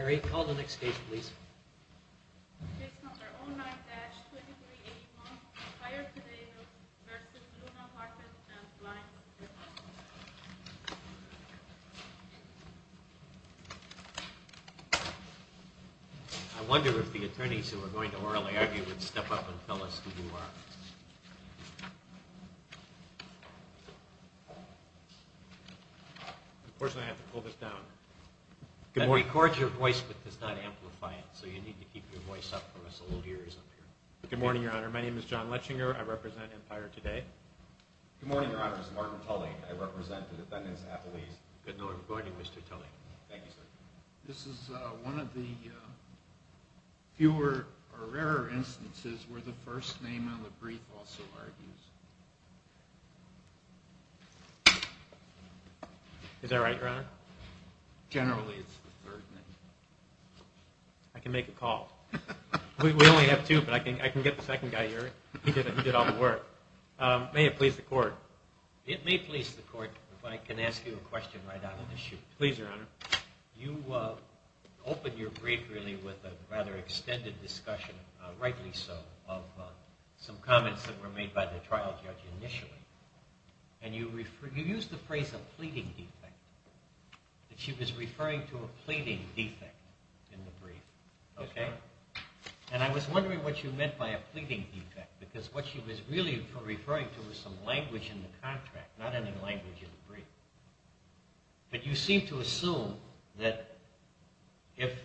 I wonder if the attorneys who are going to orally argue would step up and tell us who you are. Unfortunately, I have to pull this down. It records your voice, but does not amplify it, so you need to keep your voice up for us all ears up here. Good morning, Your Honor. My name is John Lechinger. I represent Empire Today. Good morning, Your Honor. This is Martin Tully. I represent the defendants' appellees. Good morning, Mr. Tully. Thank you, sir. This is one of the fewer or rarer instances where the first name on the brief also argues. Is that right, Your Honor? Generally, it's the third name. I can make a call. We only have two, but I can get the second guy here. He did all the work. May it please the Court. It may please the Court if I can ask you a question right out of the chute. Please, Your Honor. You opened your brief, really, with a rather extended discussion, rightly so, of some comments that were made by the trial judge initially. You used the phrase, a pleading defect. She was referring to a pleading defect in the brief. I was wondering what you meant by a pleading defect, because what she was really referring to was some language in the contract, not any language in the brief. But you seem to assume that if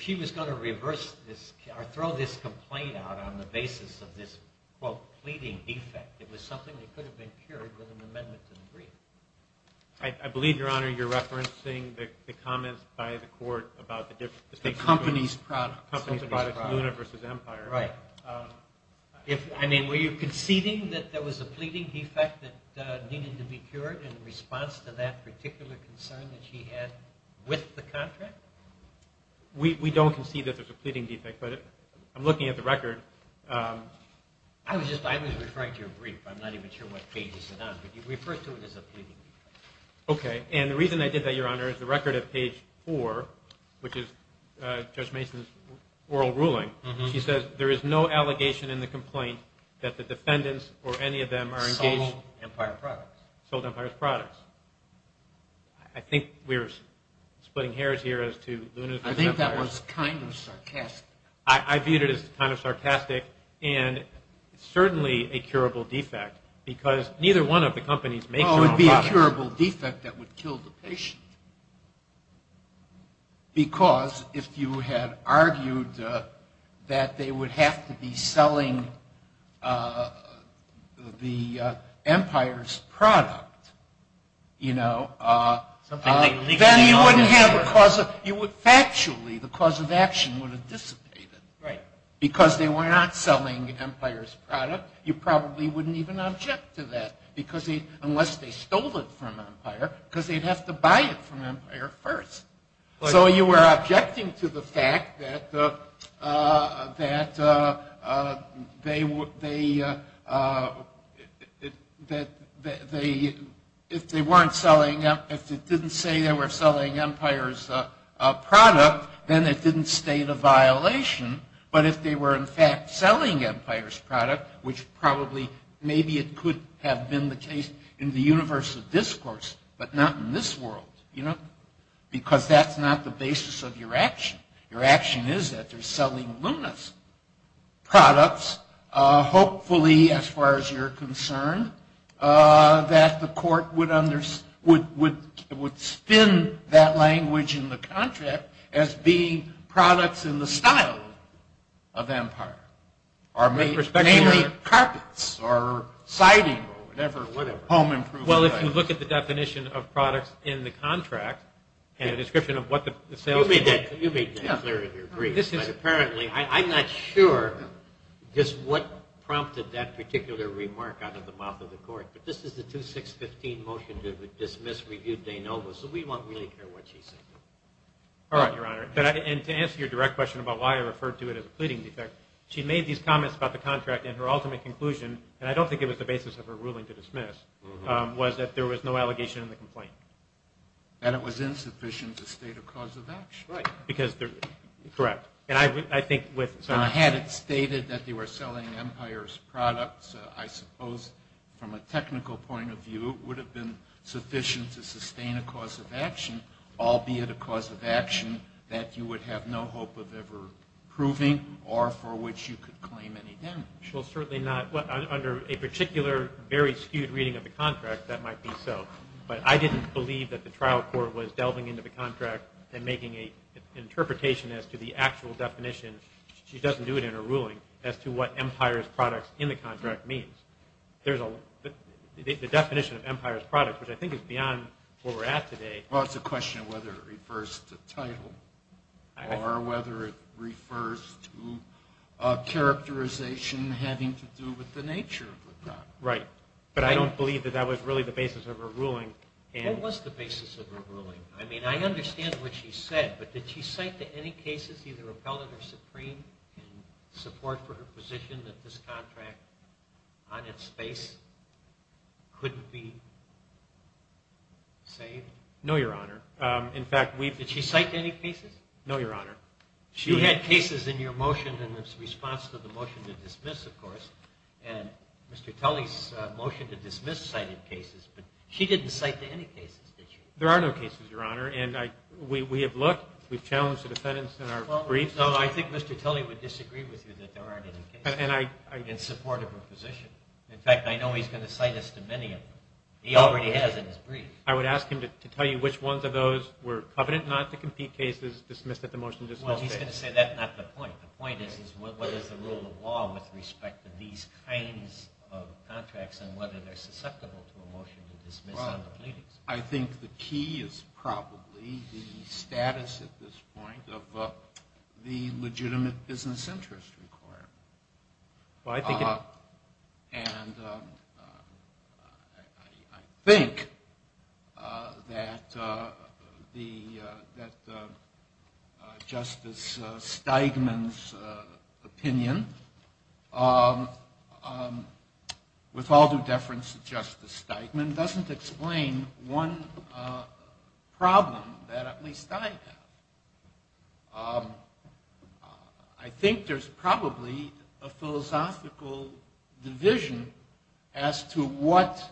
she was going to reverse this or throw this complaint out on the basis of this, quote, pleading defect, it was something that could have been cured with an amendment to the brief. I believe, Your Honor, you're referencing the comments by the Court about the difference Right. I mean, were you conceding that there was a pleading defect that needed to be cured in response to that particular concern that she had with the contract? We don't concede that there's a pleading defect, but I'm looking at the record. I was referring to your brief. I'm not even sure what page it's on, but you referred to it as a pleading defect. Okay. And the reason I did that, Your Honor, is the record at page 4, which is Judge Mason's No allegation in the complaint that the defendants or any of them are engaged in Sold Empire's products. Sold Empire's products. I think we're splitting hairs here as to Luna's Empire. I think that was kind of sarcastic. I viewed it as kind of sarcastic and certainly a curable defect, because neither one of the companies makes their own products. Well, it would be a curable defect that would kill the patient, because if you had argued that they would have to be selling the Empire's product, you know, then you wouldn't have a cause. Factually, the cause of action would have dissipated. Right. Because they were not selling Empire's product, you probably wouldn't even object to that, unless they stole it from Empire, because they'd have to buy it from Empire first. So you were objecting to the fact that if it didn't say they were selling Empire's product, then it didn't state a violation. But if they were, in fact, selling Empire's product, which probably maybe it could have been the case in the universe of discourse, but not in this world, you know, because that's not the basis of your action. Your action is that they're selling Luna's products, hopefully, as far as you're concerned, that the court would spin that language in the contract as being products in the style of Empire. Namely, carpets, or siding, or whatever, home improvement items. Well, if you look at the definition of products in the contract, and the description of what the salespeople – You made that clear in your brief. This is apparently – I'm not sure just what prompted that particular remark out of the mouth of the court, but this is the 2615 motion to dismiss, review, de novo, so we won't really care what she said. All right, Your Honor. And to answer your direct question about why I referred to it as a pleading defect, she made these comments about the contract, and her ultimate conclusion, and I don't think it was the basis of her ruling to dismiss, was that there was no allegation in the complaint. And it was insufficient to state a cause of action. Right, because – correct. And I think with – Now, had it stated that they were selling Empire's products, I suppose, from a technical point of view, it would have been sufficient to sustain a cause of action, albeit a cause of action that you would have no hope of ever proving, or for which you could claim any damage. Well, certainly not – under a particular, very skewed reading of the contract, that might be so. But I didn't believe that the trial court was delving into the contract and making an interpretation as to the actual definition – she doesn't do it in her ruling – as to what Empire's products in the contract means. There's a – the definition of Empire's products, which I think is beyond where we're at today. Well, it's a question of whether it refers to title, or whether it refers to a characterization having to do with the nature of the product. Right. But I don't believe that that was really the basis of her ruling. What was the basis of her ruling? I mean, I understand what she said, but did she cite to any cases, in support for her position that this contract, on its face, couldn't be saved? No, Your Honor. In fact, we've – Did she cite to any cases? No, Your Honor. You had cases in your motion in response to the motion to dismiss, of course, and Mr. Tully's motion to dismiss cited cases, but she didn't cite to any cases, did she? There are no cases, Your Honor, and we have looked. We've challenged the defendants in our brief. No, I think Mr. Tully would disagree with you that there aren't any cases in support of her position. In fact, I know he's going to cite us to many of them. He already has in his brief. I would ask him to tell you which ones of those were covenant not to compete cases dismissed at the motion to dismiss case. Well, he's going to say that's not the point. The point is, is what is the rule of law with respect to these kinds of contracts and whether they're susceptible to a motion to dismiss under pleadings? I think the key is probably the status at this point of the legitimate business interest required. Well, I think it is. And I think that Justice Steigman's opinion, with all due deference to Justice Steigman, doesn't explain one problem that at least I have. I think there's probably a philosophical division as to what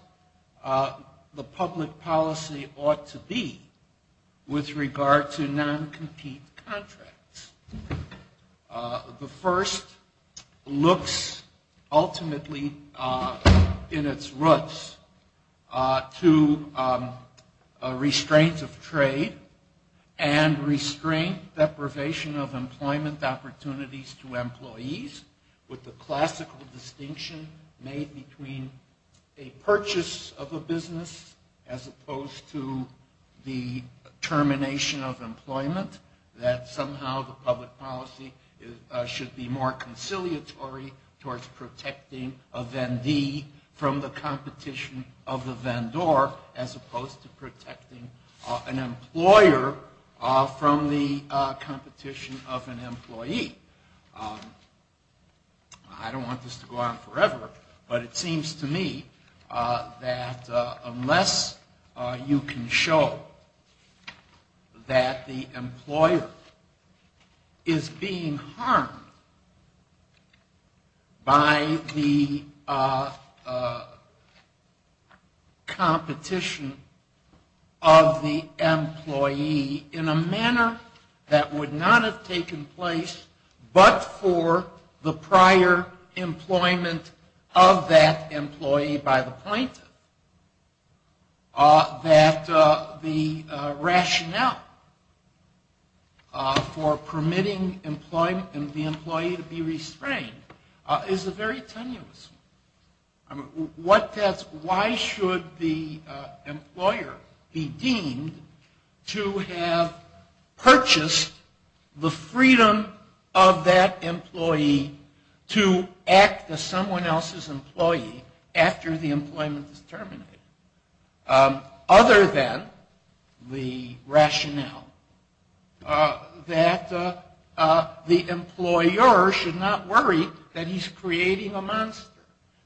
the public policy ought to be with regard to non-compete contracts. The first looks ultimately in its roots to restraints of trade and restraint deprivation of employment opportunities to employees with the classical distinction made between a purchase of a business as opposed to the termination of employment, that somehow the public policy should be more conciliatory towards protecting a vendee from the competition of the vendor as opposed to protecting an employer from the competition of an employee. I don't want this to go on forever, but it seems to me that unless you can show that the employer is being harmed by the competition of the employee in a manner that would not have taken place but for the prior employment of that employee by the point, that the rationale for permitting the employee to be restrained is very tenuous. Why should the employer be deemed to have purchased the freedom of that employee to act as someone else's employee after the employment is terminated, other than the rationale that the employer should not worry that he's creating a monster,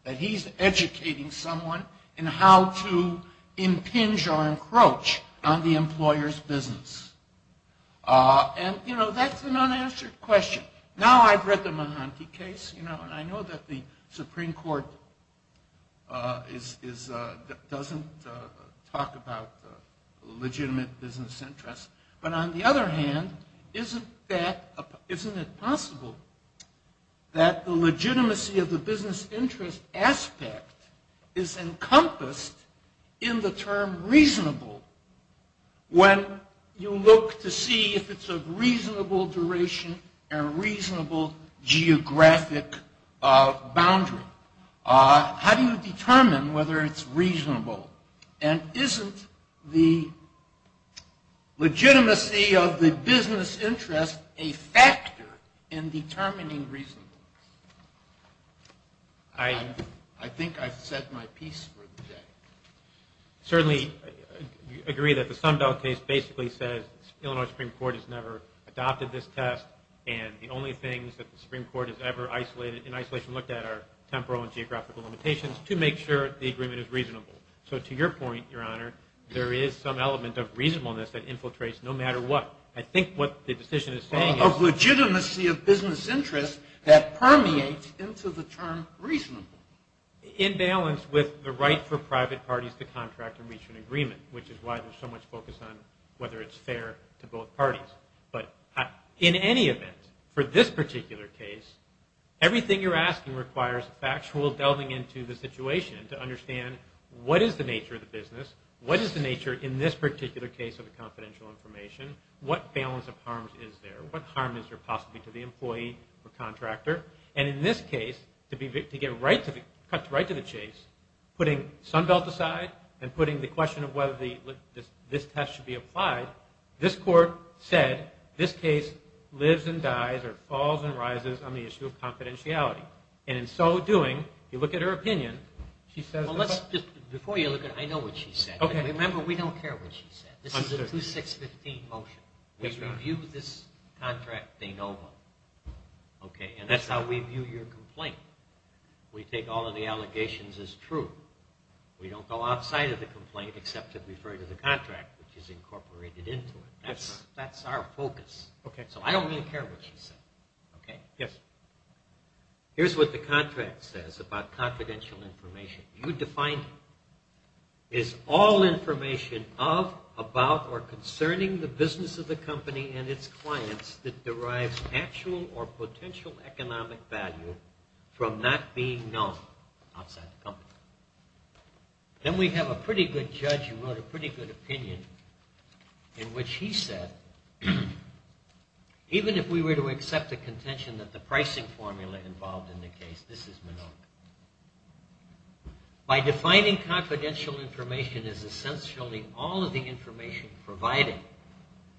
that he's educating someone in how to impinge or encroach on the employer's business? And, you know, that's an unanswered question. Now I've read the Mahanti case, and I know that the Supreme Court doesn't talk about legitimate business interests, but on the other hand, isn't it possible that the legitimacy of the business interest aspect is encompassed in the term reasonable when you look to see if it's a reasonable duration and a reasonable geographic boundary? How do you determine whether it's reasonable? And isn't the legitimacy of the business interest a factor in determining reasonableness? I think I've said my piece for the day. I certainly agree that the Sunbelt case basically says the Illinois Supreme Court has never adopted this test, and the only things that the Supreme Court has ever in isolation looked at are temporal and geographical limitations to make sure the agreement is reasonable. So to your point, Your Honor, there is some element of reasonableness that infiltrates no matter what. I think what the decision is saying is... Of legitimacy of business interest that permeates into the term reasonable. In balance with the right for private parties to contract and reach an agreement, which is why there's so much focus on whether it's fair to both parties. But in any event, for this particular case, everything you're asking requires factual delving into the situation to understand what is the nature of the business, what is the nature in this particular case of the confidential information, what balance of harms is there, what harm is there possibly to the employee or contractor. And in this case, to cut right to the chase, putting Sunbelt aside and putting the question of whether this test should be applied, this Court said this case lives and dies or falls and rises on the issue of confidentiality. And in so doing, you look at her opinion, she says... Before you look at it, I know what she said. Remember, we don't care what she said. This is a 2-6-15 motion. We review this contract. They know it. And that's how we view your complaint. We take all of the allegations as true. We don't go outside of the complaint except to refer to the contract, which is incorporated into it. That's our focus. So I don't really care what she said. Okay? Yes. Here's what the contract says about confidential information. You define it as all information of, about, or concerning the business of the company and its clients that derives actual or potential economic value from not being known outside the company. Then we have a pretty good judge who wrote a pretty good opinion in which he said, Even if we were to accept the contention that the pricing formula involved in the case. This is Minogue. By defining confidential information as essentially all of the information provided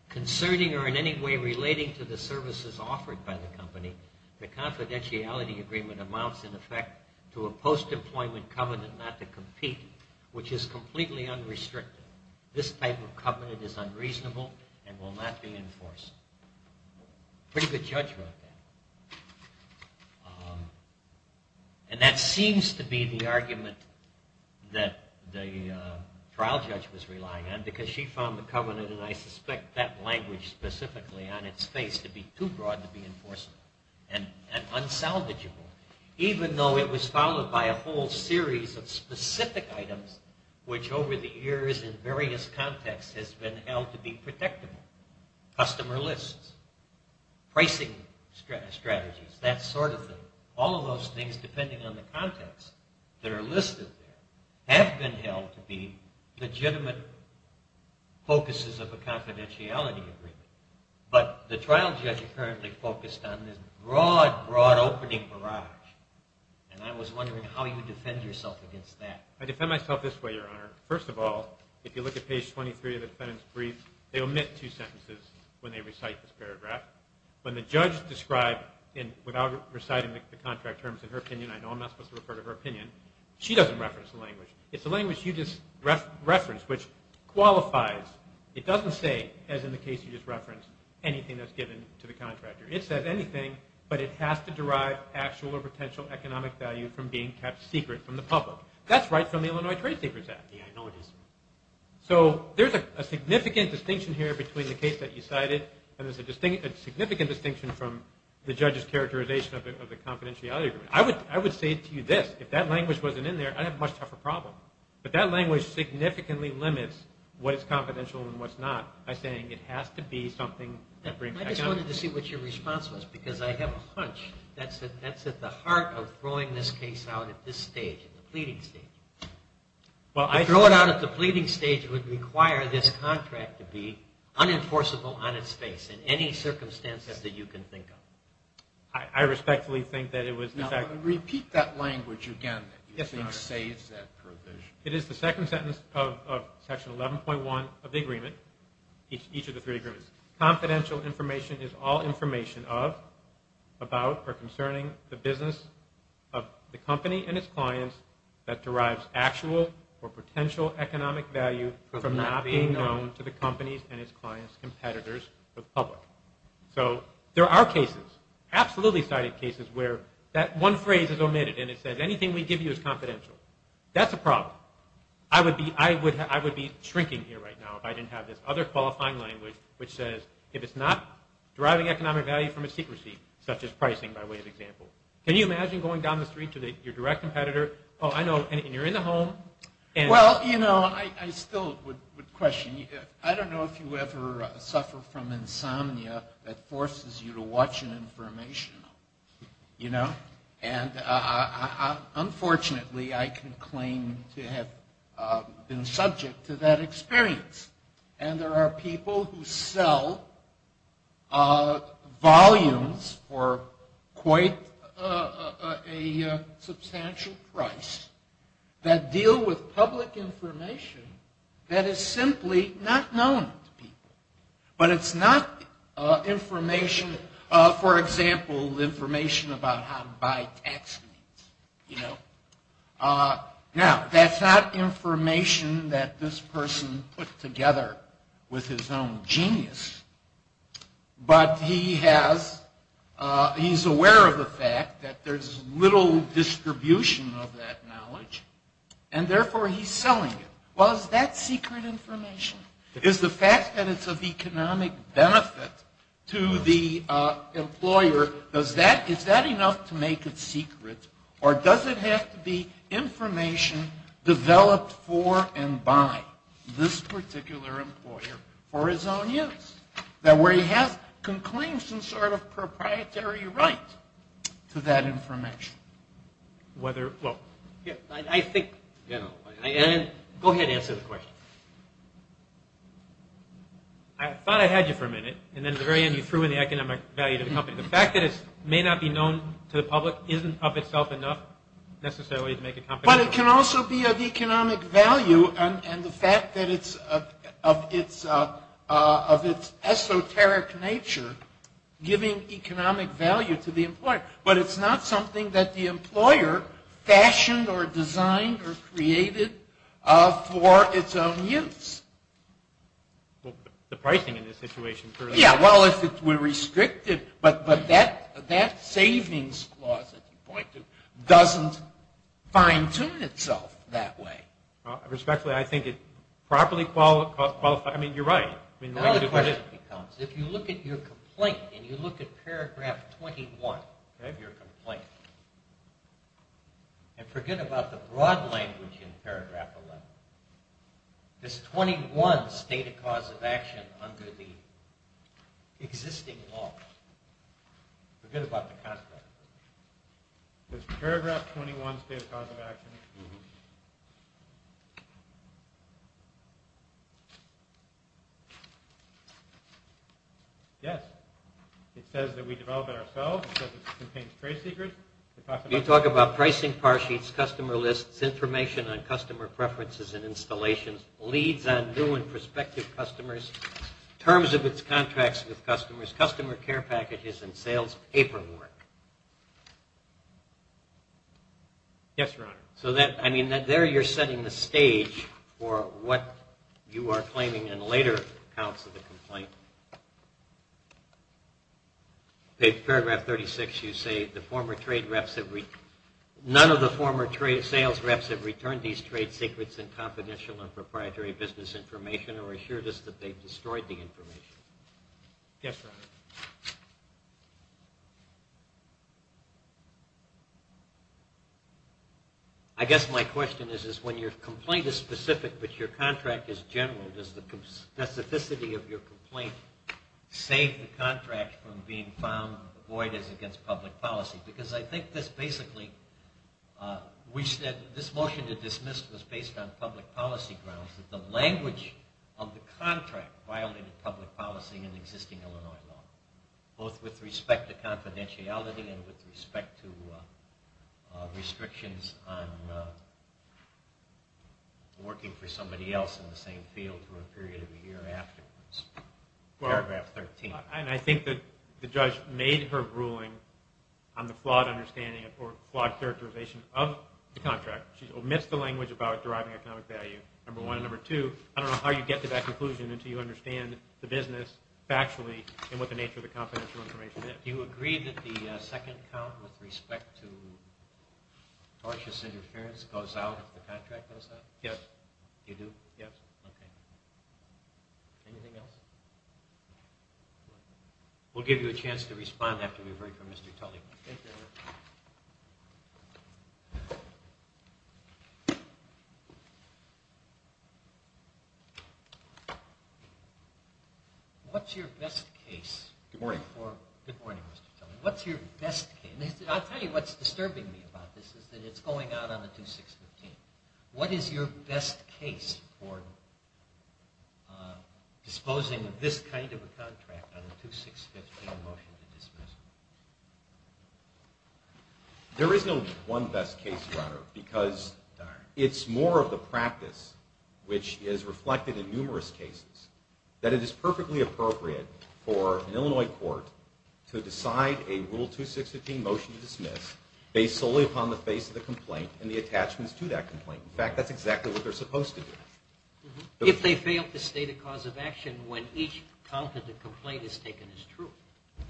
concerning or in any way relating to the services offered by the company, the confidentiality agreement amounts in effect to a post-employment covenant not to compete, which is completely unrestricted. This type of covenant is unreasonable and will not be enforced. A pretty good judge wrote that. And that seems to be the argument that the trial judge was relying on, because she found the covenant, and I suspect that language specifically on its face, to be too broad to be enforceable and unsalvageable, even though it was followed by a whole series of specific items, which over the years in various contexts has been held to be protectable. Customer lists, pricing strategies, that sort of thing. All of those things, depending on the context that are listed there, have been held to be legitimate focuses of a confidentiality agreement. But the trial judge currently focused on this broad, broad opening barrage, and I was wondering how you defend yourself against that. I defend myself this way, Your Honor. First of all, if you look at page 23 of the defendant's brief, they omit two sentences when they recite this paragraph. When the judge described, without reciting the contract terms in her opinion, I know I'm not supposed to refer to her opinion, she doesn't reference the language. It's the language you just referenced, which qualifies. It doesn't say, as in the case you just referenced, anything that's given to the contractor. It says anything, but it has to derive actual or potential economic value from being kept secret from the public. That's right from the Illinois Trade Secrets Act. I know it is. So there's a significant distinction here between the case that you cited, and there's a significant distinction from the judge's characterization of the confidentiality agreement. I would say to you this, if that language wasn't in there, I'd have a much tougher problem. But that language significantly limits what is confidential and what's not, by saying it has to be something that brings economic value. I just wanted to see what your response was, because I have a hunch that's at the heart of throwing this case out at this stage, at the pleading stage. To throw it out at the pleading stage would require this contract to be unenforceable on its face, in any circumstances that you can think of. I respectfully think that it was, in fact... Repeat that language again. It saves that provision. It is the second sentence of Section 11.1 of the agreement, each of the three agreements. Confidential information is all information of, about, or concerning the business of the company and its clients that derives actual or potential economic value from not being known to the company's and its clients' competitors or the public. There are cases, absolutely cited cases, where that one phrase is omitted and it says anything we give you is confidential. That's a problem. I would be shrinking here right now if I didn't have this other qualifying language which says if it's not deriving economic value from a secrecy, such as pricing, by way of example. Can you imagine going down the street to your direct competitor, and you're in the home... Well, you know, I still would question you. I don't know if you ever suffer from insomnia that forces you to watch an information, you know. And unfortunately, I can claim to have been subject to that experience. And there are people who sell volumes for quite a substantial price that deal with public information that is simply not known to people. But it's not information, for example, information about how to buy tax means, you know. Now, that's not information that this person put together with his own genius, but he's aware of the fact that there's little distribution of that knowledge, and therefore he's selling it. Well, is that secret information? Is the fact that it's of economic benefit to the employer, is that enough to make it secret? Or does it have to be information developed for and by this particular employer for his own use, where he can claim some sort of proprietary right to that information? I think... Go ahead and answer the question. I thought I had you for a minute, and then at the very end you threw in the economic value to the company. The fact that it may not be known to the public isn't of itself enough necessarily to make a company... But it can also be of economic value, and the fact that it's of its esoteric nature giving economic value to the employer. But it's not something that the employer fashioned or designed or created for its own use. Well, the pricing in this situation... Yeah, well, if it were restricted... But that savings clause, as you point to, doesn't fine-tune itself that way. Respectfully, I think it properly qualifies... I mean, you're right. Now the question becomes, if you look at your complaint, and you look at paragraph 21 of your complaint, and forget about the broad language in paragraph 11, there's 21 stated cause of action under the existing law. Forget about the content. There's paragraph 21 stated cause of action. Yes. It says that we developed it ourselves. It contains trade secrets. You talk about pricing par sheets, customer lists, information on customer preferences and installations, leads on new and prospective customers, terms of its contracts with customers, customer care packages, and sales paperwork. Yes, Your Honor. So there you're setting the stage for what you are claiming in later accounts of the complaint. In paragraph 36 you say, none of the former sales reps have returned these trade secrets and confidential and proprietary business information or assured us that they've destroyed the information. Yes, Your Honor. I guess my question is, when your complaint is specific but your contract is general, does the specificity of your complaint save the contract from being found void as against public policy? Because I think this basically, we said this motion to dismiss was based on public policy grounds, that the language of the contract violated public policy and existing Illinois law, both with respect to confidentiality and with respect to restrictions on working for somebody else in the same field for a period of a year afterwards. Paragraph 13. And I think that the judge made her ruling on the flawed understanding or flawed characterization of the contract. She omits the language about deriving economic value, number one. Number two, I don't know how you get to that conclusion until you understand the business factually and what the nature of the confidential information is. Do you agree that the second count with respect to tortious interference goes out if the contract goes out? Yes. You do? Yes. Okay. Anything else? We'll give you a chance to respond after we've heard from Mr. Tully. Thank you, Your Honor. Thank you. What's your best case? Good morning. Good morning, Mr. Tully. What's your best case? I'll tell you what's disturbing me about this is that it's going out on the 2-6-15. What is your best case for disposing of this kind of a contract on a 2-6-15 motion to dismiss? There is no one best case, Your Honor, because it's more of the practice, which is reflected in numerous cases, that it is perfectly appropriate for an Illinois court to decide a Rule 2-6-15 motion to dismiss based solely upon the face of the complaint and the attachments to that complaint. In fact, that's exactly what they're supposed to do. If they fail to state a cause of action when each count of the complaint is taken as true.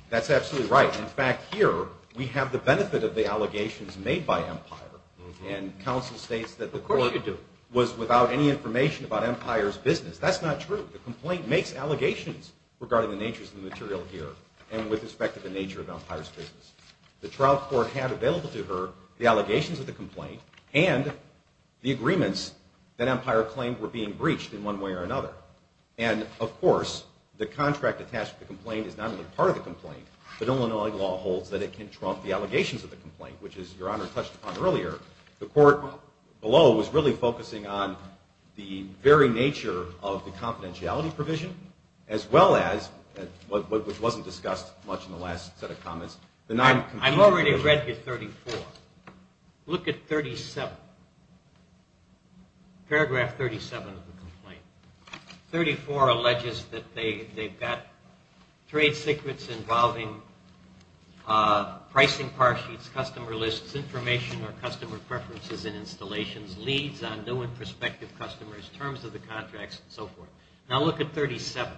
That's absolutely right. In fact, here we have the benefit of the allegations made by Empire. And counsel states that the court was without any information about Empire's business. That's not true. The complaint makes allegations regarding the natures of the material here and with respect to the nature of Empire's business. The trial court had available to her the allegations of the complaint and the agreements that Empire claimed were being breached in one way or another. And, of course, the contract attached to the complaint is not only part of the complaint, but Illinois law holds that it can trump the allegations of the complaint, which is, Your Honor, touched upon earlier. The court below was really focusing on the very nature of the confidentiality provision, as well as, which wasn't discussed much in the last set of comments, the non-compliance provision. I've already read your 34. Look at 37, paragraph 37 of the complaint. 34 alleges that they've got trade secrets involving pricing par sheets, customer lists, information on customer preferences and installations, leads on new and prospective customers, terms of the contracts, and so forth. Now look at 37.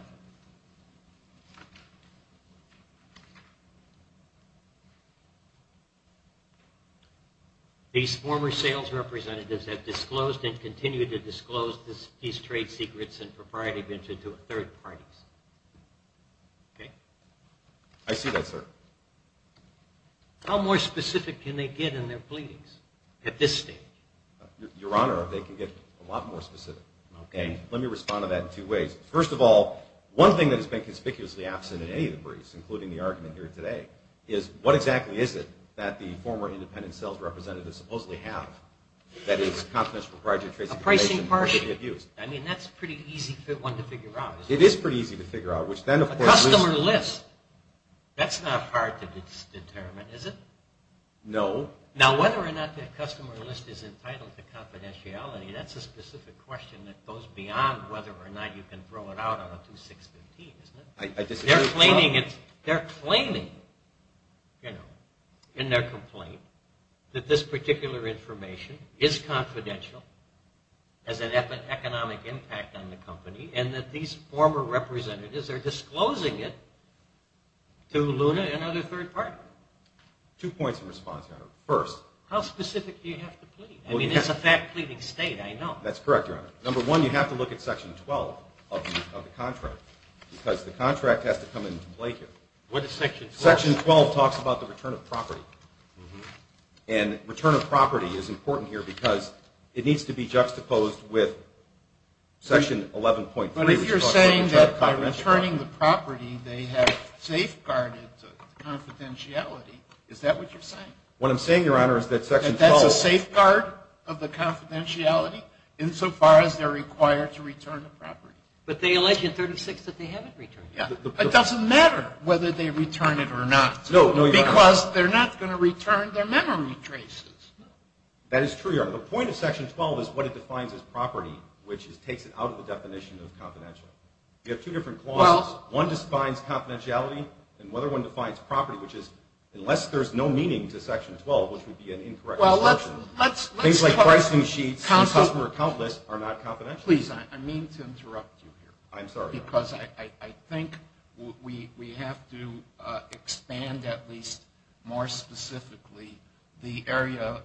These former sales representatives have disclosed and continue to disclose these trade secrets and proprietary venture to third parties. Okay? I see that, sir. How more specific can they get in their pleadings at this stage? Your Honor, they can get a lot more specific. Okay. Let me respond to that in two ways. First of all, one thing that has been conspicuously absent in any of the briefs, including the argument here today, is what exactly is it that the former independent sales representatives supposedly have that is a confidential proprietary trade secret? A pricing par sheet. I mean, that's a pretty easy one to figure out, isn't it? It is pretty easy to figure out. A customer list. That's not hard to determine, is it? No. Now whether or not that customer list is entitled to confidentiality, that's a specific question that goes beyond whether or not you can throw it out on a 2615, isn't it? They're claiming in their complaint that this particular information is confidential, has an economic impact on the company, and that these former representatives are disclosing it to Luna and other third parties. Two points of response, Your Honor. First, how specific do you have to plead? I mean, it's a fact-pleading state, I know. That's correct, Your Honor. Number one, you have to look at Section 12 of the contract because the contract has to come into play here. What is Section 12? Section 12 talks about the return of property. And return of property is important here because it needs to be juxtaposed with Section 11.3. But if you're saying that by returning the property they have safeguarded confidentiality, is that what you're saying? What I'm saying, Your Honor, is that Section 12 is a safeguard of the confidentiality insofar as they're required to return the property. But they allege in 36 that they haven't returned it. It doesn't matter whether they return it or not. No, Your Honor. Because they're not going to return their memory traces. That is true, Your Honor. The point of Section 12 is what it defines as property, which takes it out of the definition of confidential. You have two different clauses. One defines confidentiality, and the other one defines property, which is unless there's no meaning to Section 12, which would be an incorrect description. Things like pricing sheets and customer account lists are not confidential. Please, I mean to interrupt you here. I'm sorry, Your Honor. Because I think we have to expand at least more specifically the area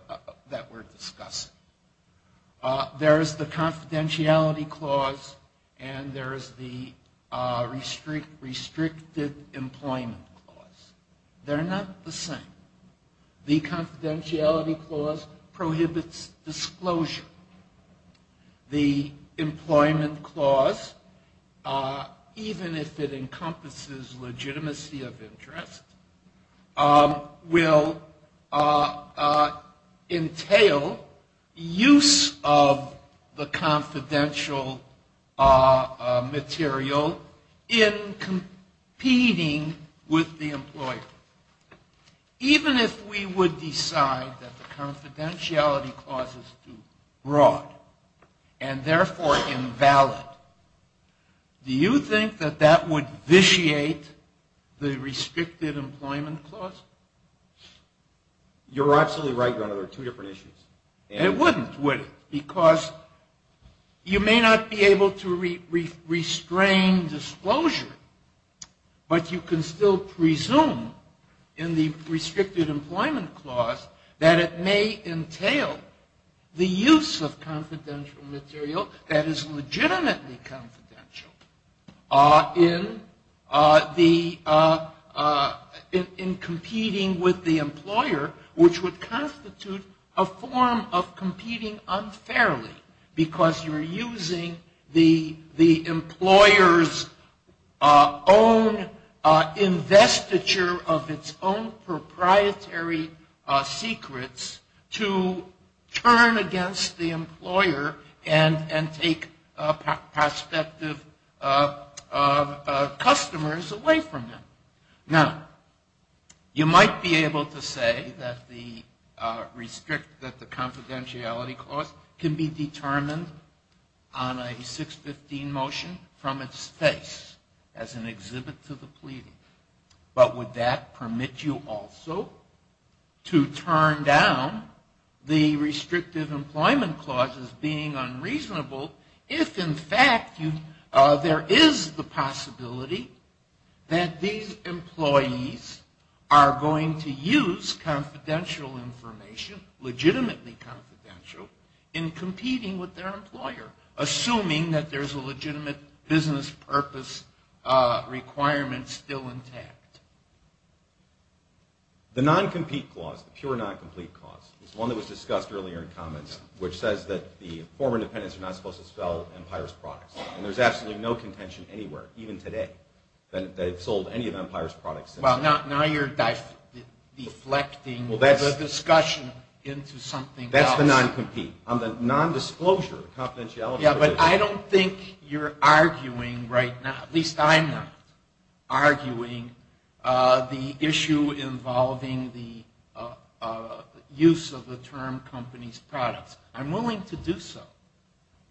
that we're discussing. There is the confidentiality clause, and there is the restricted employment clause. They're not the same. The confidentiality clause prohibits disclosure. The employment clause, even if it encompasses legitimacy of interest, will entail use of the confidential material in competing with the employer. Even if we would decide that the confidentiality clause is too broad, and therefore invalid, do you think that that would vitiate the restricted employment clause? You're absolutely right, Your Honor. There are two different issues. It wouldn't, would it? Because you may not be able to restrain disclosure, but you can still presume in the restricted employment clause that it may entail the use of confidential material that is legitimately confidential in competing with the employer, which would constitute a form of competing unfairly. Because you're using the employer's own investiture of its own proprietary secrets to turn against the employer and take prospective customers away from them. Now, you might be able to say that the confidentiality clause can be determined on a 615 motion from its face as an exhibit to the pleading. But would that permit you also to turn down the restrictive employment clause as being unreasonable, if in fact there is the possibility that these employees are going to use confidential information, legitimately confidential, in competing with their employer, assuming that there's a legitimate business purpose requirement still intact? The non-compete clause, the pure non-complete clause, is one that was discussed earlier in comments, which says that the former dependents are not supposed to sell Empire's products. And there's absolutely no contention anywhere, even today, that they've sold any of Empire's products. Well, now you're deflecting the discussion into something else. That's the non-compete, the non-disclosure confidentiality provision. Yeah, but I don't think you're arguing right now, at least I'm not, arguing the issue involving the use of the term company's products. I'm willing to do so,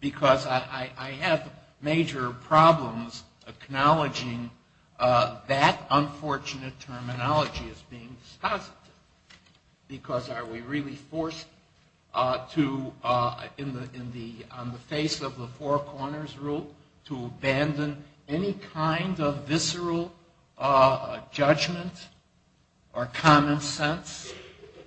because I have major problems acknowledging that unfortunate terminology as being dispositive. Because are we really forced to, on the face of the four corners rule, to abandon any kind of visceral judgment or common sense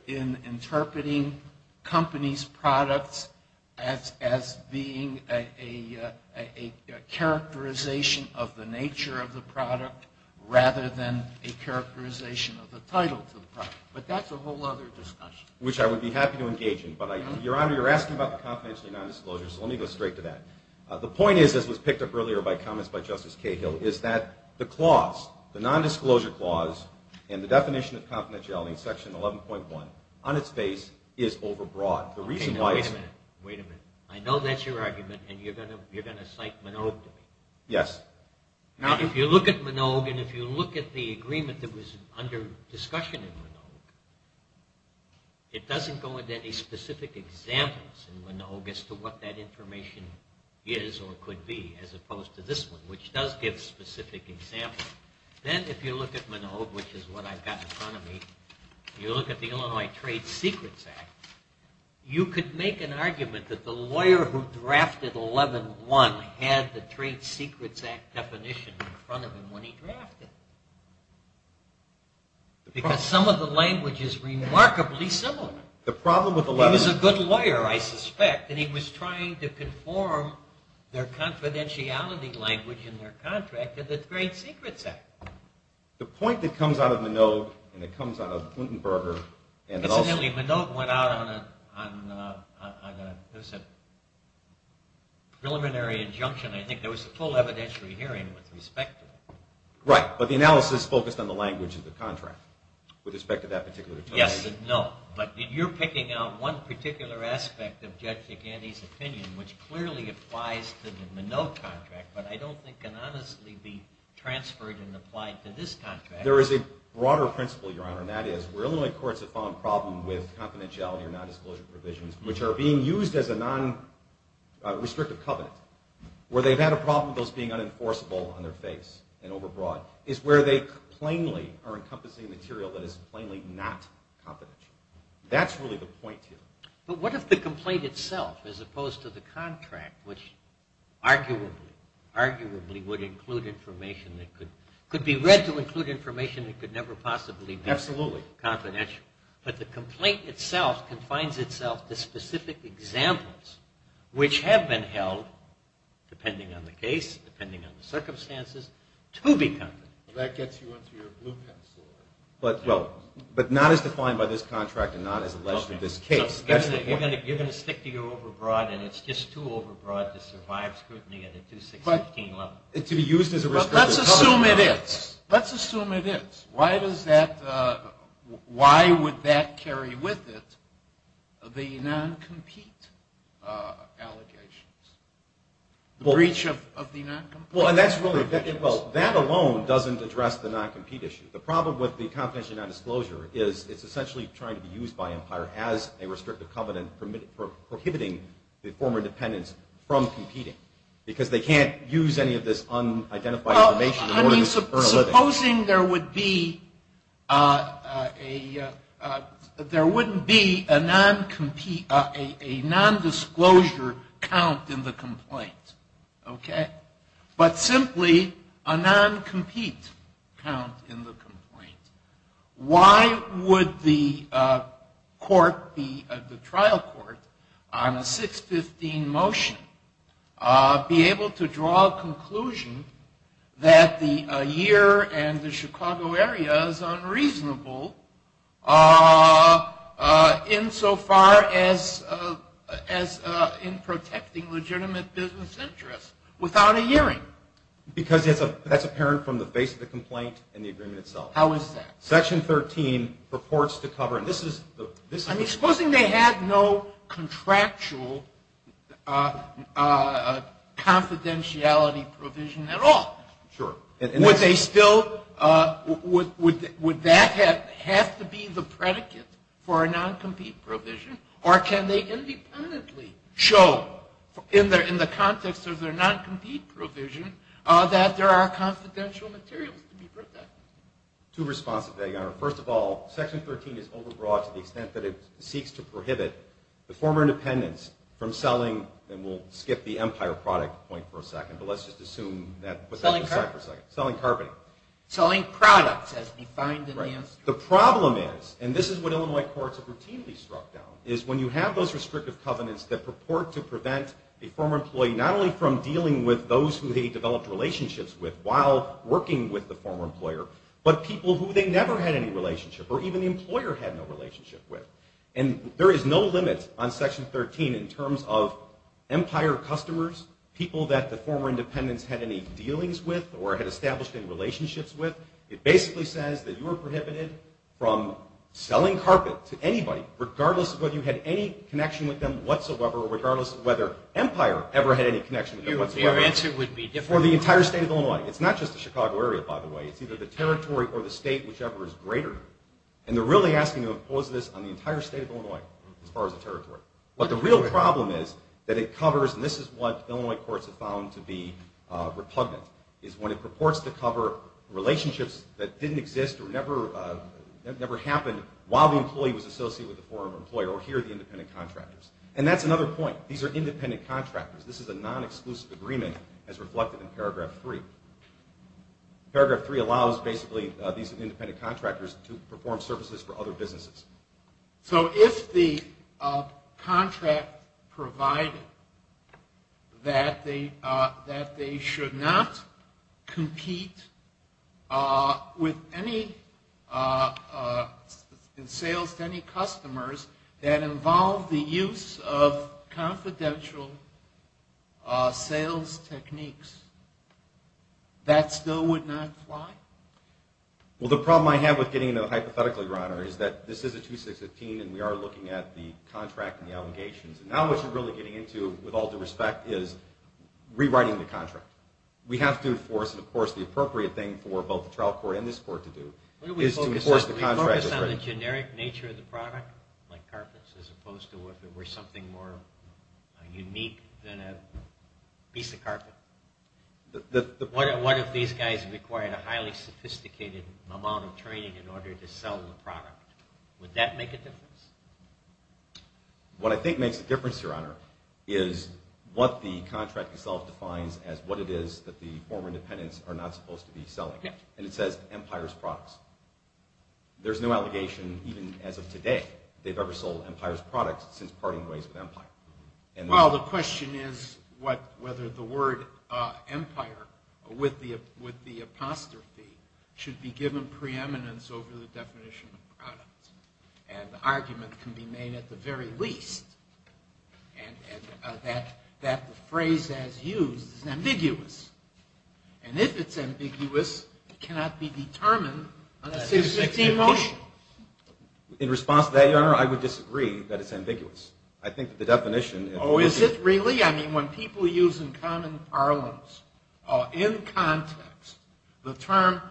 in interpreting companies' products as being a characterization of the nature of the product, rather than a characterization of the title to the product? But that's a whole other discussion. Which I would be happy to engage in. But, Your Honor, you're asking about confidentiality and non-disclosure, so let me go straight to that. The point is, as was picked up earlier by comments by Justice Cahill, is that the clause, the non-disclosure clause, and the definition of confidentiality in Section 11.1, on its face, is overbroad. Wait a minute. I know that's your argument, and you're going to cite Minogue to me. Yes. If you look at Minogue, and if you look at the agreement that was under discussion in Minogue, it doesn't go into any specific examples in Minogue as to what that information is or could be, as opposed to this one, which does give specific examples. Then, if you look at Minogue, which is what I've got in front of me, if you look at the Illinois Trade Secrets Act, you could make an argument that the lawyer who drafted 11.1 had the Trade Secrets Act definition in front of him when he drafted it. Because some of the language is remarkably similar. He was a good lawyer, I suspect, and he was trying to conform their confidentiality language in their contract to the Trade Secrets Act. The point that comes out of Minogue, and it comes out of Luthenberger, Incidentally, Minogue went out on a preliminary injunction. I think there was a full evidentiary hearing with respect to that. Right, but the analysis focused on the language of the contract, with respect to that particular determination. Yes and no, but you're picking out one particular aspect of Judge Giganti's opinion, which clearly applies to the Minogue contract, but I don't think can honestly be transferred and applied to this contract. There is a broader principle, Your Honor, and that is where Illinois courts have found a problem with confidentiality or non-disclosure provisions, which are being used as a non-restrictive covenant, where they've had a problem with those being unenforceable on their face and overbroad, is where they plainly are encompassing material that is plainly not confidential. That's really the point here. But what if the complaint itself, as opposed to the contract, which arguably would include information that could be read to include information that could never possibly be confidential. But the complaint itself confines itself to specific examples, which have been held, depending on the case, depending on the circumstances, to be confidential. That gets you onto your blueprint. But not as defined by this contract and not as alleged in this case. You're going to stick to your overbroad, and it's just too overbroad to survive scrutiny at a 2-6-15 level. Let's assume it is. Let's assume it is. Why would that carry with it the non-compete allegations? The breach of the non-compete? That alone doesn't address the non-compete issue. The problem with the confidential non-disclosure is it's essentially trying to be used by Empire as a restrictive covenant prohibiting the former dependents from competing, because they can't use any of this unidentified information in order to earn a living. Supposing there wouldn't be a non-disclosure count in the complaint. But simply a non-compete count in the complaint. Why would the trial court on a 6-15 motion be able to draw a conclusion that the year and the Chicago area is unreasonable insofar as in protecting legitimate business interests without a hearing? Because that's apparent from the face of the complaint and the agreement itself. How is that? Section 13 purports to cover... Supposing they had no contractual confidentiality provision at all. Sure. Would that have to be the predicate for a non-compete provision? Or can they independently show in the context of their non-compete provision that there are confidential materials to be protected? Section 13 is overbroad to the extent that it seeks to prohibit the former dependents from selling, and we'll skip the Empire product point for a second, but let's just assume that... Selling products as defined in the instrument. The problem is, and this is what Illinois courts have routinely struck down, is when you have those restrictive covenants that purport to prevent a former employee not only from dealing with those who they developed relationships with while working with the former employer, but people who they never had any relationship or even the employer had no relationship with. And there is no limit on Section 13 in terms of Empire customers, people that the former dependents had any dealings with or had established any relationships with. It basically says that you are prohibited from selling carpet to anybody regardless of whether you had any connection with them whatsoever or regardless of whether Empire ever had any connection with them whatsoever. For the entire state of Illinois. It's not just the Chicago area, by the way. It's either the territory or the state whichever is greater. And they're really asking to impose this on the entire state of Illinois as far as the territory. But the real problem is that it covers and this is what Illinois courts have found to be repugnant, is when it purports to cover relationships that didn't exist or never happened while the employee was associated with the former employer or here the independent contractors. And that's another point. These are independent contractors. This is a non-exclusive agreement as reflected in Paragraph 3. Paragraph 3 allows basically these independent contractors to perform services for other businesses. So if the contract provided that they should not compete with any sales to any customers that involve the use of confidential sales techniques, that still would not apply? Well, the problem I have with getting into the hypothetical, Your Honor, is that this is a 2615 and we are looking at the contract and the allegations. And now what you're really getting into with all due respect is rewriting the contract. We have to enforce, and of course the appropriate thing for both the trial court and this court to do is to enforce the contract as written. We focus on the generic nature of the product, like carpets, as opposed to if it were something more unique than a piece of carpet. What if these guys required a highly sophisticated amount of training in order to sell the product? Would that make a difference? What I think makes a difference, Your Honor, is what the contract itself defines as what it is that the former independents are not supposed to be selling. And it says, Empire's products. There's no allegation, even as of today, they've ever sold Empire's products since parting ways with Empire. Well, the question is whether the word Empire, with the apostrophe, should be given preeminence over the definition of product. And the argument can be made at the very least. And that the phrase as used is ambiguous. And if it's ambiguous, it cannot be determined on a 616 motion. In response to that, Your Honor, I would disagree that it's ambiguous. I think the definition Oh, is it really? I mean, when people use in common parlance in context, the term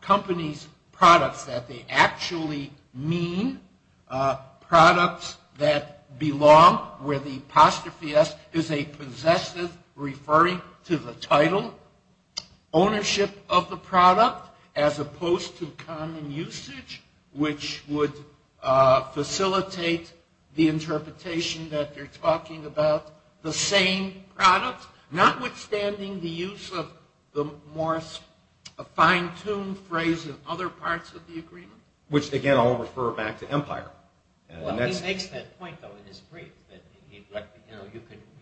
company's products, that they actually mean products that belong where the apostrophe S is a possessive referring to the title ownership of the product, as opposed to common usage, which would facilitate the interpretation that they're talking about, the same product, notwithstanding the use of the more fine-tuned phrase in other parts of the agreement. Which, again, I'll refer back to Empire. Well, he makes that point though in his brief, that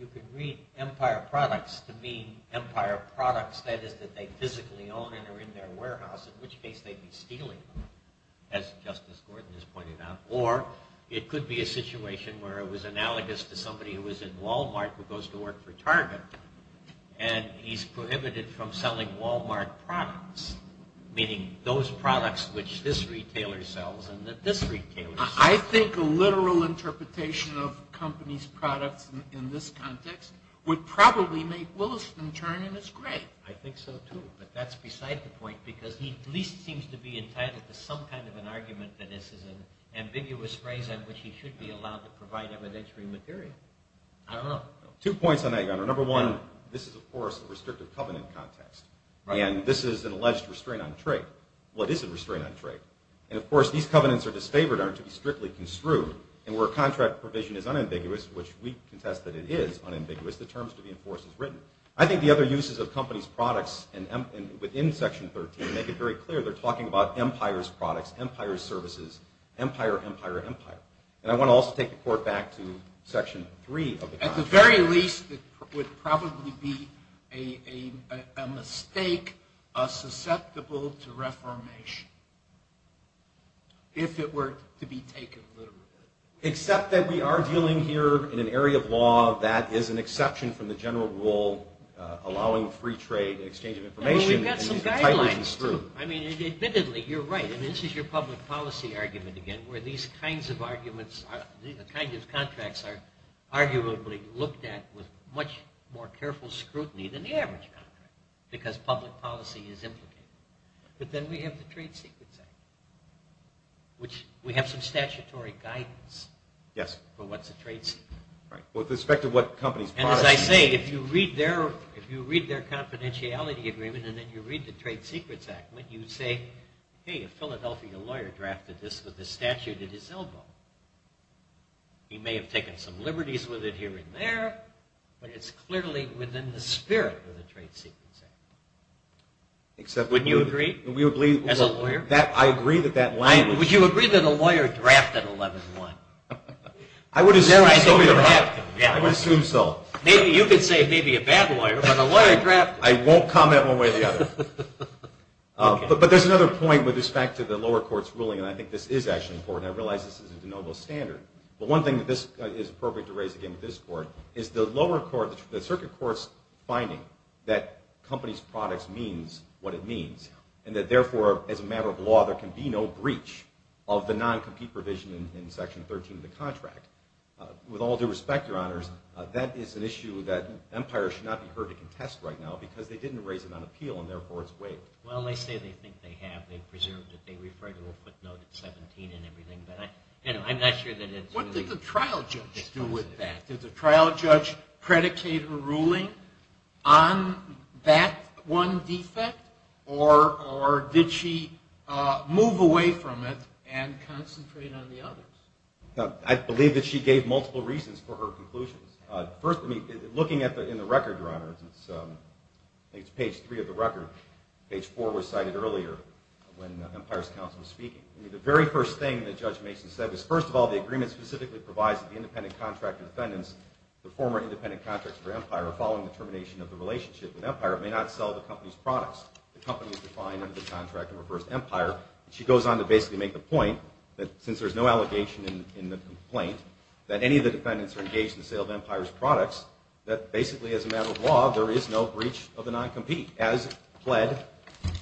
you could read Empire products to mean Empire products, that is, that they physically own and are in their warehouse, in which case they'd be stealing them, as Justice Gordon has pointed out. Or it could be a situation where it was analogous to somebody who was in Wal-Mart who goes to work for Target, and he's prohibited from selling Wal-Mart products, meaning those products which this retailer sells and that this retailer sells. I think a literal interpretation of company's products in this context would probably make Williston turn in his grave. I think so too, but that's beside the point, because he at least seems to be entitled to some kind of an argument that this is an ambiguous phrase on which he should be allowed to provide evidentiary material. I don't know. Two points on that, Your Honor. Number one, this is, of course, a restrictive covenant context. And this is an alleged restraint on trade. What is a restraint on trade? And, of course, these covenants are disfavored are to be strictly construed, and where contract provision is unambiguous, which we contest that it is unambiguous, the terms to be enforced is written. I think the other uses of company's products within Section 13 make it very clear they're talking about Empire's products, Empire's services, Empire, Empire, Empire. And I want to also take the court back to Section 3 of the contract. At the very least, it would probably be a mistake susceptible to reformation if it were to be taken literally. Except that we are dealing here in an area of law that is an exception from the general rule allowing free trade and exchange of information. We've got some guidelines too. I mean, admittedly, you're right. This is your public policy argument again, where these kinds of arguments, these kinds of contracts are arguably looked at with much more careful scrutiny than the average contract because public policy is implicated. But then we have the Trade Secrets Act, which we have some statutory guidance for what's a trade secret. And as I say, if you read their confidentiality agreement and then you read the Trade Secrets Act, when you say, hey, a Philadelphia lawyer drafted this with a statute at his elbow, he may have taken some liberties with it here and there, but it's clearly within the spirit of the Trade Secrets Act. Wouldn't you agree? Would you agree that a lawyer drafted 11-1? I would assume so. You could say maybe a bad lawyer, but a lawyer drafted it. I won't comment one way or the other. But there's another point with respect to the lower court's ruling, and I think this is actually important. I realize this is a de novo standard. But one thing that is appropriate to raise again with this court is the lower court, the circuit court's finding that companies' products means what it means and that therefore, as a matter of law, there can be no breach of the non-compete provision in Section 13 of the contract. With all due respect, Your Honors, that is an issue that empires should not be heard to contest right now because they didn't raise it on appeal and therefore it's waived. Well, they say they think they have. They presume that they refer to a footnote at 17 and everything. What did the trial judge do with that? Did the trial judge predicate her ruling on that one defect or did she move away from it and concentrate on the others? I believe that she gave multiple reasons for her conclusions. First, looking in the record, Your Honors, it's page 3 of the record. Page 4 was cited earlier when Empire's counsel was speaking. I mean, the very first thing that Judge Mason said was, first of all, the agreement specifically provides that the independent contractor defendants, the former independent contractors for Empire are following the termination of the relationship with Empire and may not sell the company's products the company is defined under the contract and refers to Empire. She goes on to basically make the point that since there's no allegation in the complaint that any of the defendants are engaged in the sale of Empire's products, that basically as a matter of law, there is no breach of the non-compete as pled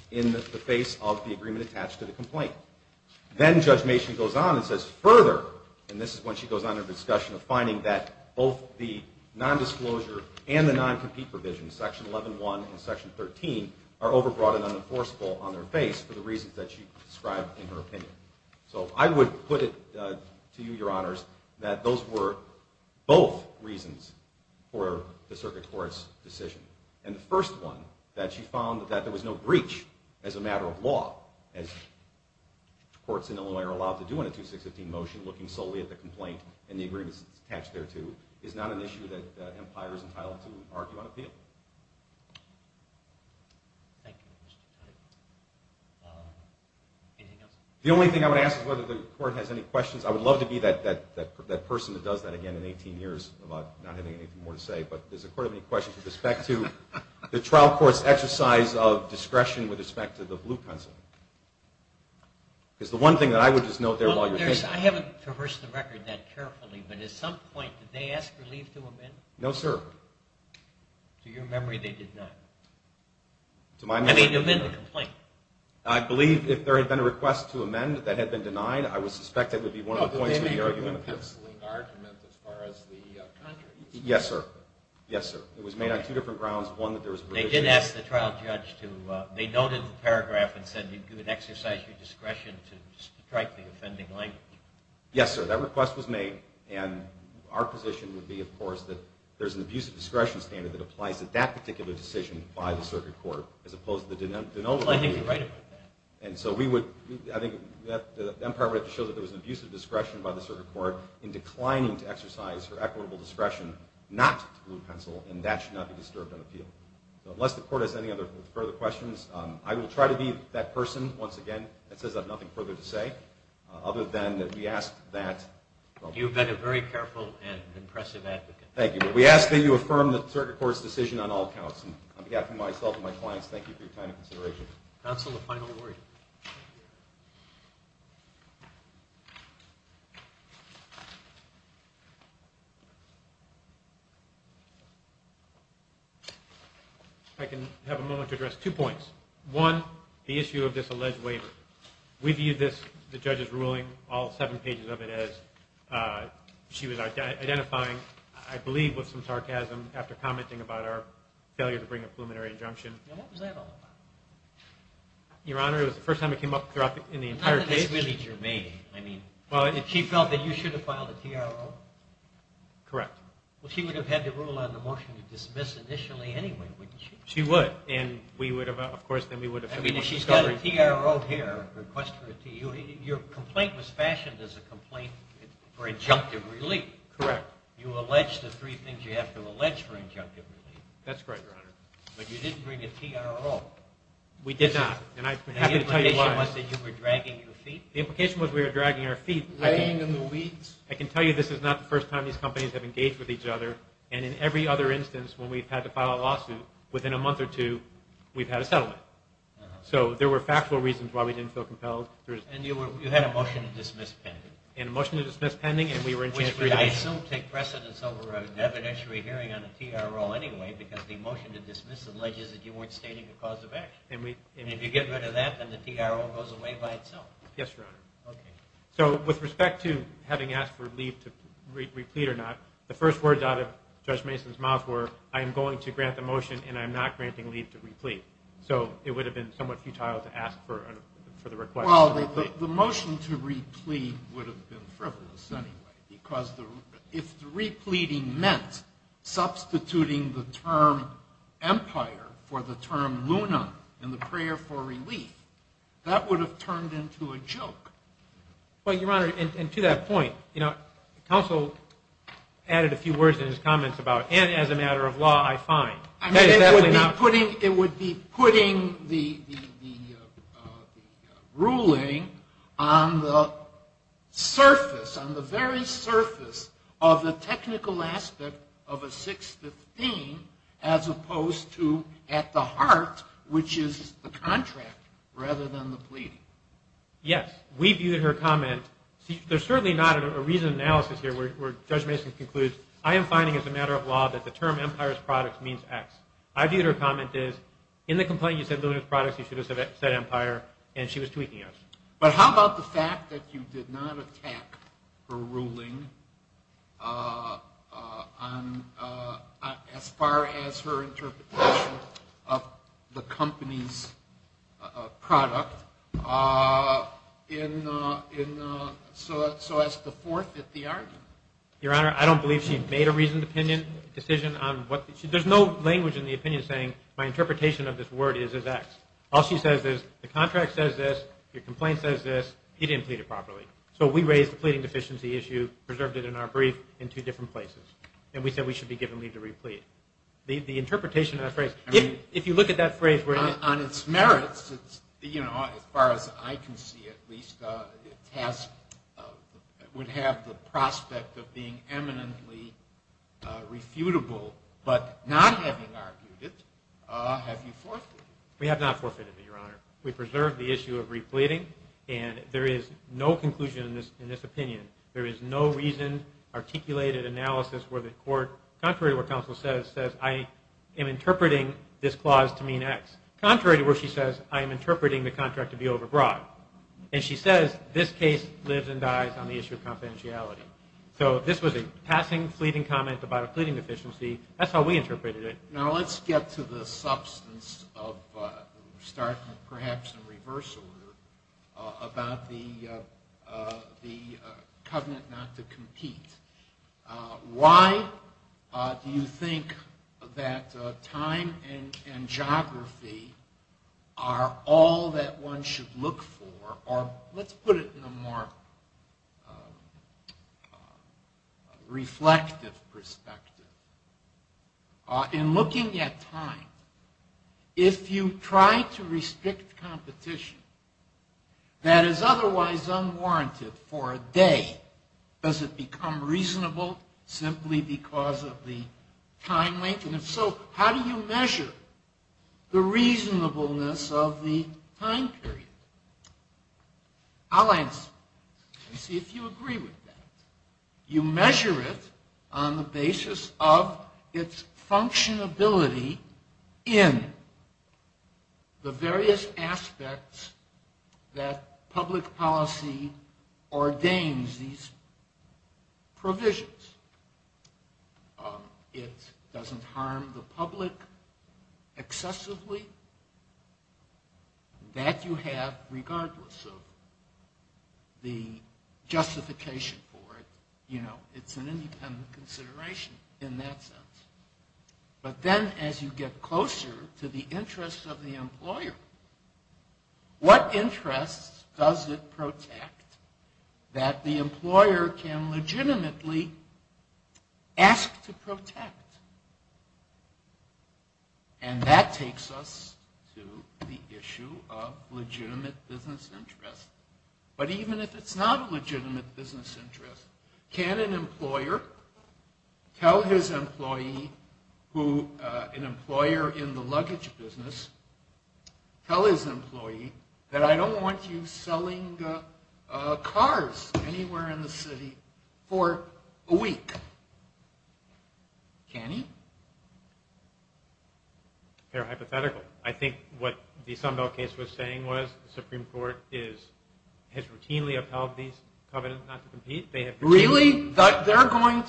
in the face of the agreement attached to the complaint. Then Judge Mason goes on and says further, and this is when she goes on in her discussion of finding that both the non-disclosure and the non-compete provisions, section 11.1 and section 13, are overbroad and unenforceable on their face for the reasons that she described in her opinion. So I would put it to you, Your Honors, that those were both reasons for the circuit court's decision. And the first one, that she found that there was no breach as a matter of law, as courts in Illinois are allowed to do in a 2615 motion, looking solely at the complaint and the agreements attached thereto, is not an issue that Empire is entitled to argue on appeal. Thank you. Anything else? The only thing I would ask is whether the court has any questions. I would love to be that person that does that again in 18 years about not having anything more to say, but does the court have any questions with respect to the trial court's exercise of discretion with respect to the blue pencil? Because the one thing that I would just note there while you're thinking... I haven't traversed the record that carefully, but at some point, did they ask relief to amend? No, sir. To your memory, they did not. I mean, to amend the complaint. I believe if there had been a request to amend that had been denied, I would suspect that would be one of the points of the argument. Oh, did they make a blue penciling argument as far as the country? Yes, sir. Yes, sir. It was made on two different grounds. One, that there was... They noted the paragraph and said you could exercise your discretion to strike the offending language. Yes, sir. That request was made and our position would be, of course, that there's an abuse of discretion standard that applies to that particular decision by the circuit court as opposed to the denominator. I think you're right about that. Empire would have to show that there was an abuse of discretion by the circuit court in declining to exercise her equitable discretion not to blue pencil, and that should not be disturbed on appeal. Unless the court has any further questions, I will try to be that person once again that says I have nothing further to say, other than that we ask that... You've been a very careful and impressive advocate. Thank you. But we ask that you affirm the circuit court's decision on all accounts. On behalf of myself and my clients, thank you for your time and consideration. Counsel, a final word. I can have a moment to address two points. One, the issue of this alleged waiver. We view this, the judge's ruling, all seven pages of it as she was identifying, I believe, with some sarcasm after commenting about our failure to bring a preliminary injunction. And what was that all about? Your Honor, it was the first time it came up in the entire case. Not that it's really germane. I mean, she felt that you should have filed a TRO. Correct. Well, she would have had the rule on the motion to dismiss initially anyway, wouldn't she? She would. And we would have... I mean, if she's got a TRO here, your complaint was fashioned as a complaint for injunctive relief. Correct. You allege the three things you have to allege for injunctive relief. That's correct, Your Honor. But you didn't bring a TRO. We did not. The implication was that you were dragging your feet? The implication was we were dragging our feet. Laying in the weeds? I can tell you this is not the first time these companies have engaged with each other. And in every other instance, when we've had to file a lawsuit, within a month or two, we've had a settlement. So there were factual reasons why we didn't feel compelled. And you had a motion to dismiss pending? And a motion to dismiss pending, and we were... I assume take precedence over an evidentiary hearing on a TRO anyway, because the motion to dismiss alleges that you weren't stating a cause of action. And if you get rid of that, then the TRO goes away by itself. Yes, Your Honor. So with respect to having asked for leave to re-plead or not, the first words out of Judge Mason's mouth were I am going to grant the motion, and I am not granting leave to re-plead. So it would have been somewhat futile to ask for the request to re-plead. Well, the motion to re-plead would have been frivolous anyway, because if the re-pleading meant substituting the term empire for the term luna and the prayer for relief, that would have turned into a joke. Well, Your Honor, and to that point, counsel added a few words in his comments about, and as a matter of law, I find. It would be putting the ruling on the surface, on the very surface of the technical aspect of a 615 as opposed to at the heart, which is the contract rather than the pleading. Yes, we viewed her comment. There's certainly not a reasoned analysis here where Judge Mason concludes, I am finding as a matter of law that the term empire as products means X. I viewed her comment as, in the complaint you said luna as products you should have said empire, and she was tweaking us. But how about the fact that you did not attack her ruling as far as her interpretation of the company's product, so as to forfeit the argument? Your Honor, I don't believe she made a reasoned decision. There's no language in the opinion saying my interpretation of this word is as X. All she says is, the contract says this, your complaint says this, he didn't plead it properly. So we raised the pleading deficiency issue, preserved it in our brief in two different places, and we said we should be given leave to replete. The interpretation of that phrase, if you look at that phrase On its merits, as far as I can see at least, it would have the prospect of being eminently refutable, but not having argued it, have you forfeited it? We have not forfeited it, your Honor. We preserved the issue of repleting, and there is an analysis where the court, contrary to what counsel says, says I am interpreting this clause to mean X. Contrary to what she says, I am interpreting the contract to be overbroad. And she says, this case lives and dies on the issue of confidentiality. So this was a passing, fleeting comment about a pleading deficiency. That's how we interpreted it. Now let's get to the substance of starting perhaps in reverse order about the covenant not to compete. Why do you think that time and geography are all that one should look for, or let's put it in a more reflective perspective. In looking at time, if you try to restrict competition that is otherwise unwarranted for a day, does it become reasonable simply because of the time length? And if so, how do you measure the reasonableness of the time period? I'll answer. You see, if you agree with that, you measure it on the basis of its functionality in the various aspects that public policy ordains these provisions. It doesn't harm the public excessively. That you have regardless of the justification for it. You know, it's an independent consideration in that sense. But then as you get closer to the interests of the public, what interests does it protect that the employer can legitimately ask to protect? And that takes us to the issue of legitimate business interest. But even if it's not a legitimate business interest, can an employer tell his employee who, an employer in the luggage business, tell his employee that I don't want you selling cars anywhere in the city for a week? Can he? Fair hypothetical. I think what the Sunbelt case was saying was the Supreme Court has routinely upheld these covenants not to compete. Really? They're going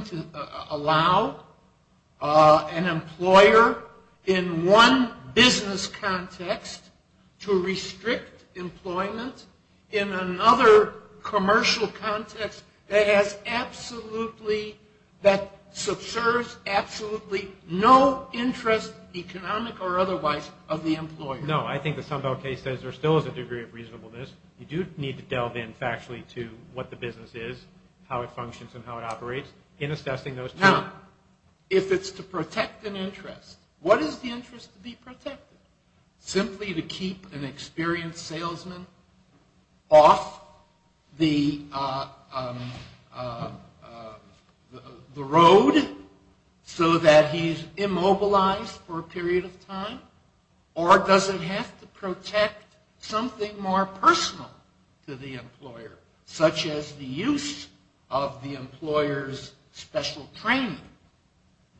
to allow an employer in one business context to restrict employment in another commercial context that has absolutely, that subserves absolutely no interest, economic or otherwise, of the employer. No, I think the Sunbelt case says there still is a degree of reasonableness. You do need to delve in factually to what the business is, how it functions and how it operates in assessing those terms. Now, if it's to protect an interest, what is the interest to be protected? Simply to keep an experienced salesman off the road so that he's immobilized for a period of time? Or does it have to protect something more personal to the employer, such as the use of the employer's special training,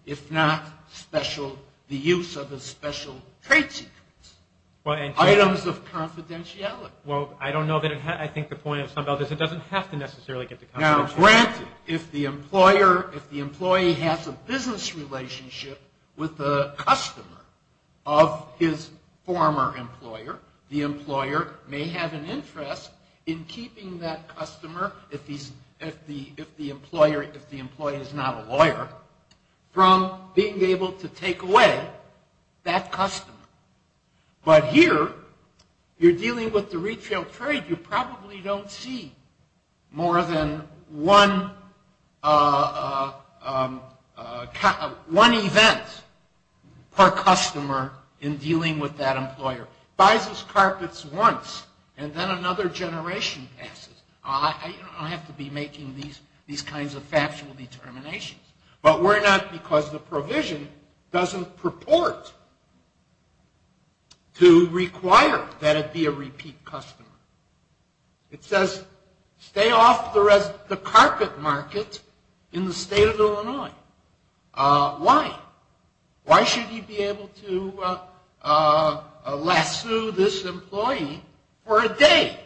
if not the use of a special trade secret, items of confidentiality? Well, I don't know that I think the point of Sunbelt is it doesn't have to necessarily get the confidentiality. Now, granted, if the employer, if the employee has a business relationship with the customer of his former employer, the employer may have an interest in keeping that customer, if the employer, if the employee is not a lawyer, from being able to take away that customer. But here, you're dealing with the retail trade. You probably don't see more than one event per customer in dealing with that employer. Buys his carpets once and then another generation passes. I don't have to be making these kinds of factual determinations. But we're not because the provision doesn't purport to require that it be a repeat customer. It says, stay off the carpet market in the state of Illinois. Why? Why should he be able to lasso this employee for a day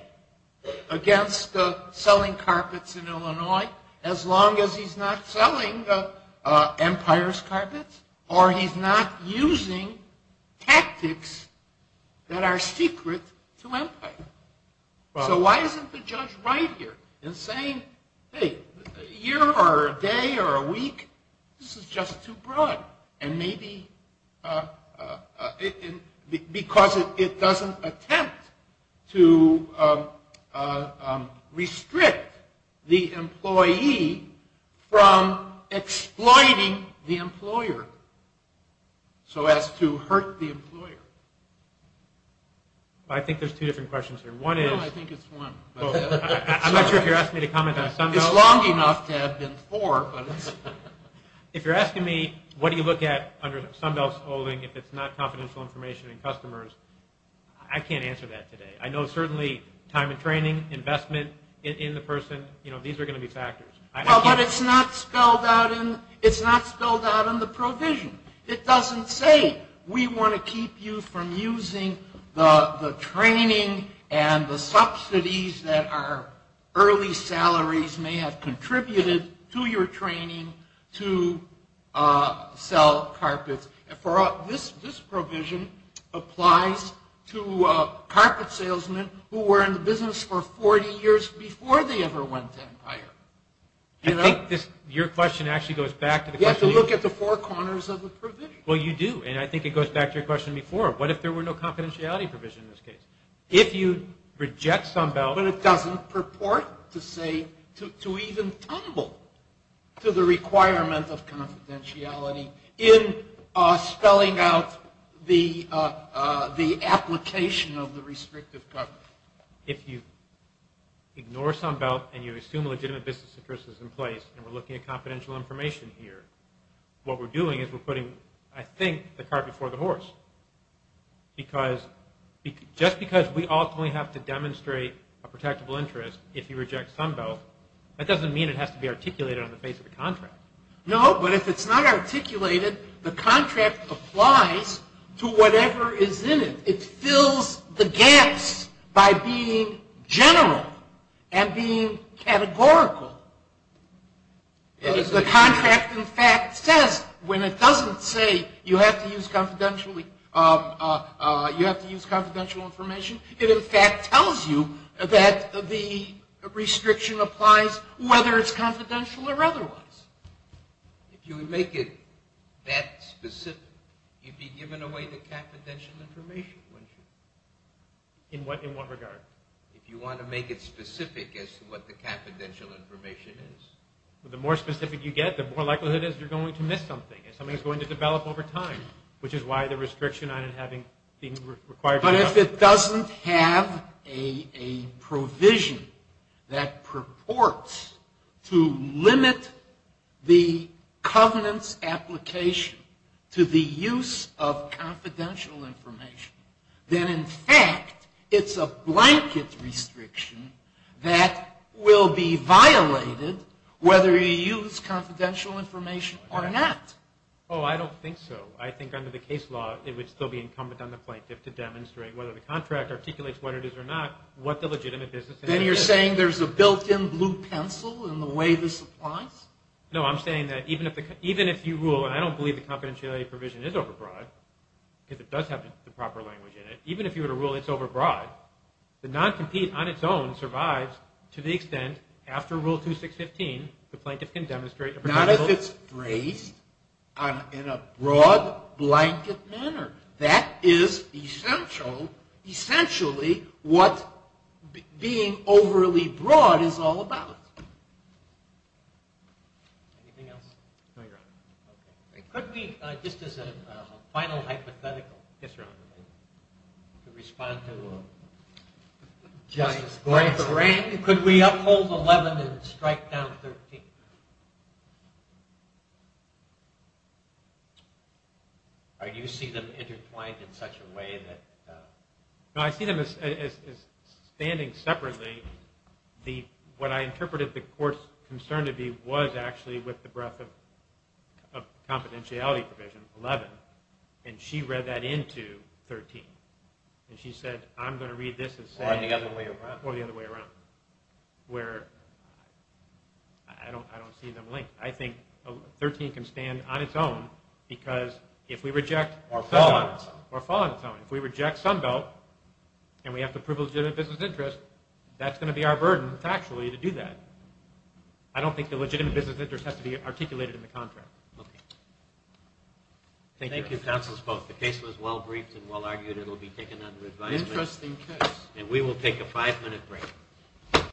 against selling carpets in Illinois as long as he's not selling Empire's carpets or he's not using tactics that are secret to Empire? So why isn't the judge right here in saying, hey, a year or a day or a week, this is just too broad. And maybe because it doesn't attempt to restrict the employee from exploiting the employer so as to hurt the employer. I think there's two different questions here. No, I think it's one. I'm not sure if you're asking me to comment on some of them. It's long enough to have been four. If you're Sunbelt's holding, if it's not confidential information in customers, I can't answer that today. I know certainly time of training, investment in the person, these are going to be factors. But it's not spelled out in the provision. It doesn't say we want to keep you from using the training and the subsidies that our early salaries may have contributed to your training to sell carpets. This provision applies to carpet salesmen who were in the business for 40 years before they ever went to Empire. I think your question actually goes back to the question... You have to look at the four corners of the provision. Well, you do. And I think it goes back to your question before. What if there were no confidentiality provision in this case? If you reject Sunbelt... But it doesn't purport to even tumble to the requirement of confidentiality in spelling out the application of the restrictive cover. If you ignore Sunbelt and you assume a legitimate business interest is in place, and we're looking at confidential information here, what we're doing is we're putting, I think, the cart before the horse. Because... Just because we ultimately have to demonstrate a protectable interest if you reject Sunbelt, that doesn't mean it has to be articulated on the face of the contract. No, but if it's not articulated, the contract applies to whatever is in it. It fills the gaps by being general and being categorical. The contract, in fact, says when it doesn't say you have to use confidential information, it in fact tells you that the restriction applies whether it's confidential or otherwise. If you make it that specific, you'd be giving away the confidential information, wouldn't you? In what regard? If you want to make it specific as to what the confidential information is. The more specific you get, the more likelihood it is you're going to miss something, and something's going to develop over time, which is why the restriction on it having... But if it doesn't have a provision that purports to limit the covenant's application to the use of confidential information, then in fact, it's a blanket restriction that will be violated whether you use confidential information or not. Oh, I don't think so. I think under the case law, it would still be incumbent on the plaintiff to demonstrate whether the contract articulates what it is or not, what the legitimate business... Then you're saying there's a built-in blue pencil in the way this applies? No, I'm saying that even if you rule, and I don't believe the confidentiality provision is overbroad, because it does have the proper language in it, even if you were to rule it's overbroad, the non-compete on its own survives to the extent after Rule 2615, the plaintiff can demonstrate... Not if it's braced in a broad blanket manner. That is essentially what being overly broad is all about. Anything else? Could we, just as a final hypothetical, to respond to Justice Grant, could we uphold 11 and strike down 13? Do you see them intertwined in such a way that... No, I see them as standing separately. What I interpreted the court's concern to be was actually with the breadth of confidentiality provision, 11, and she read that into 13, and she said, I'm going to read this as saying... Or the other way around. Where... I don't see them linked. I think 13 can stand on its own, because if we reject... Or fall on its own. Or fall on its own. If we reject Sunbelt, and we have to prove legitimate business interest, that's going to be our burden, factually, to do that. I don't think the legitimate business interest has to be articulated in the contract. Thank you. Thank you. The case was well-briefed and well-argued. It'll be taken under advisement. Interesting case. And we will take a five-minute break.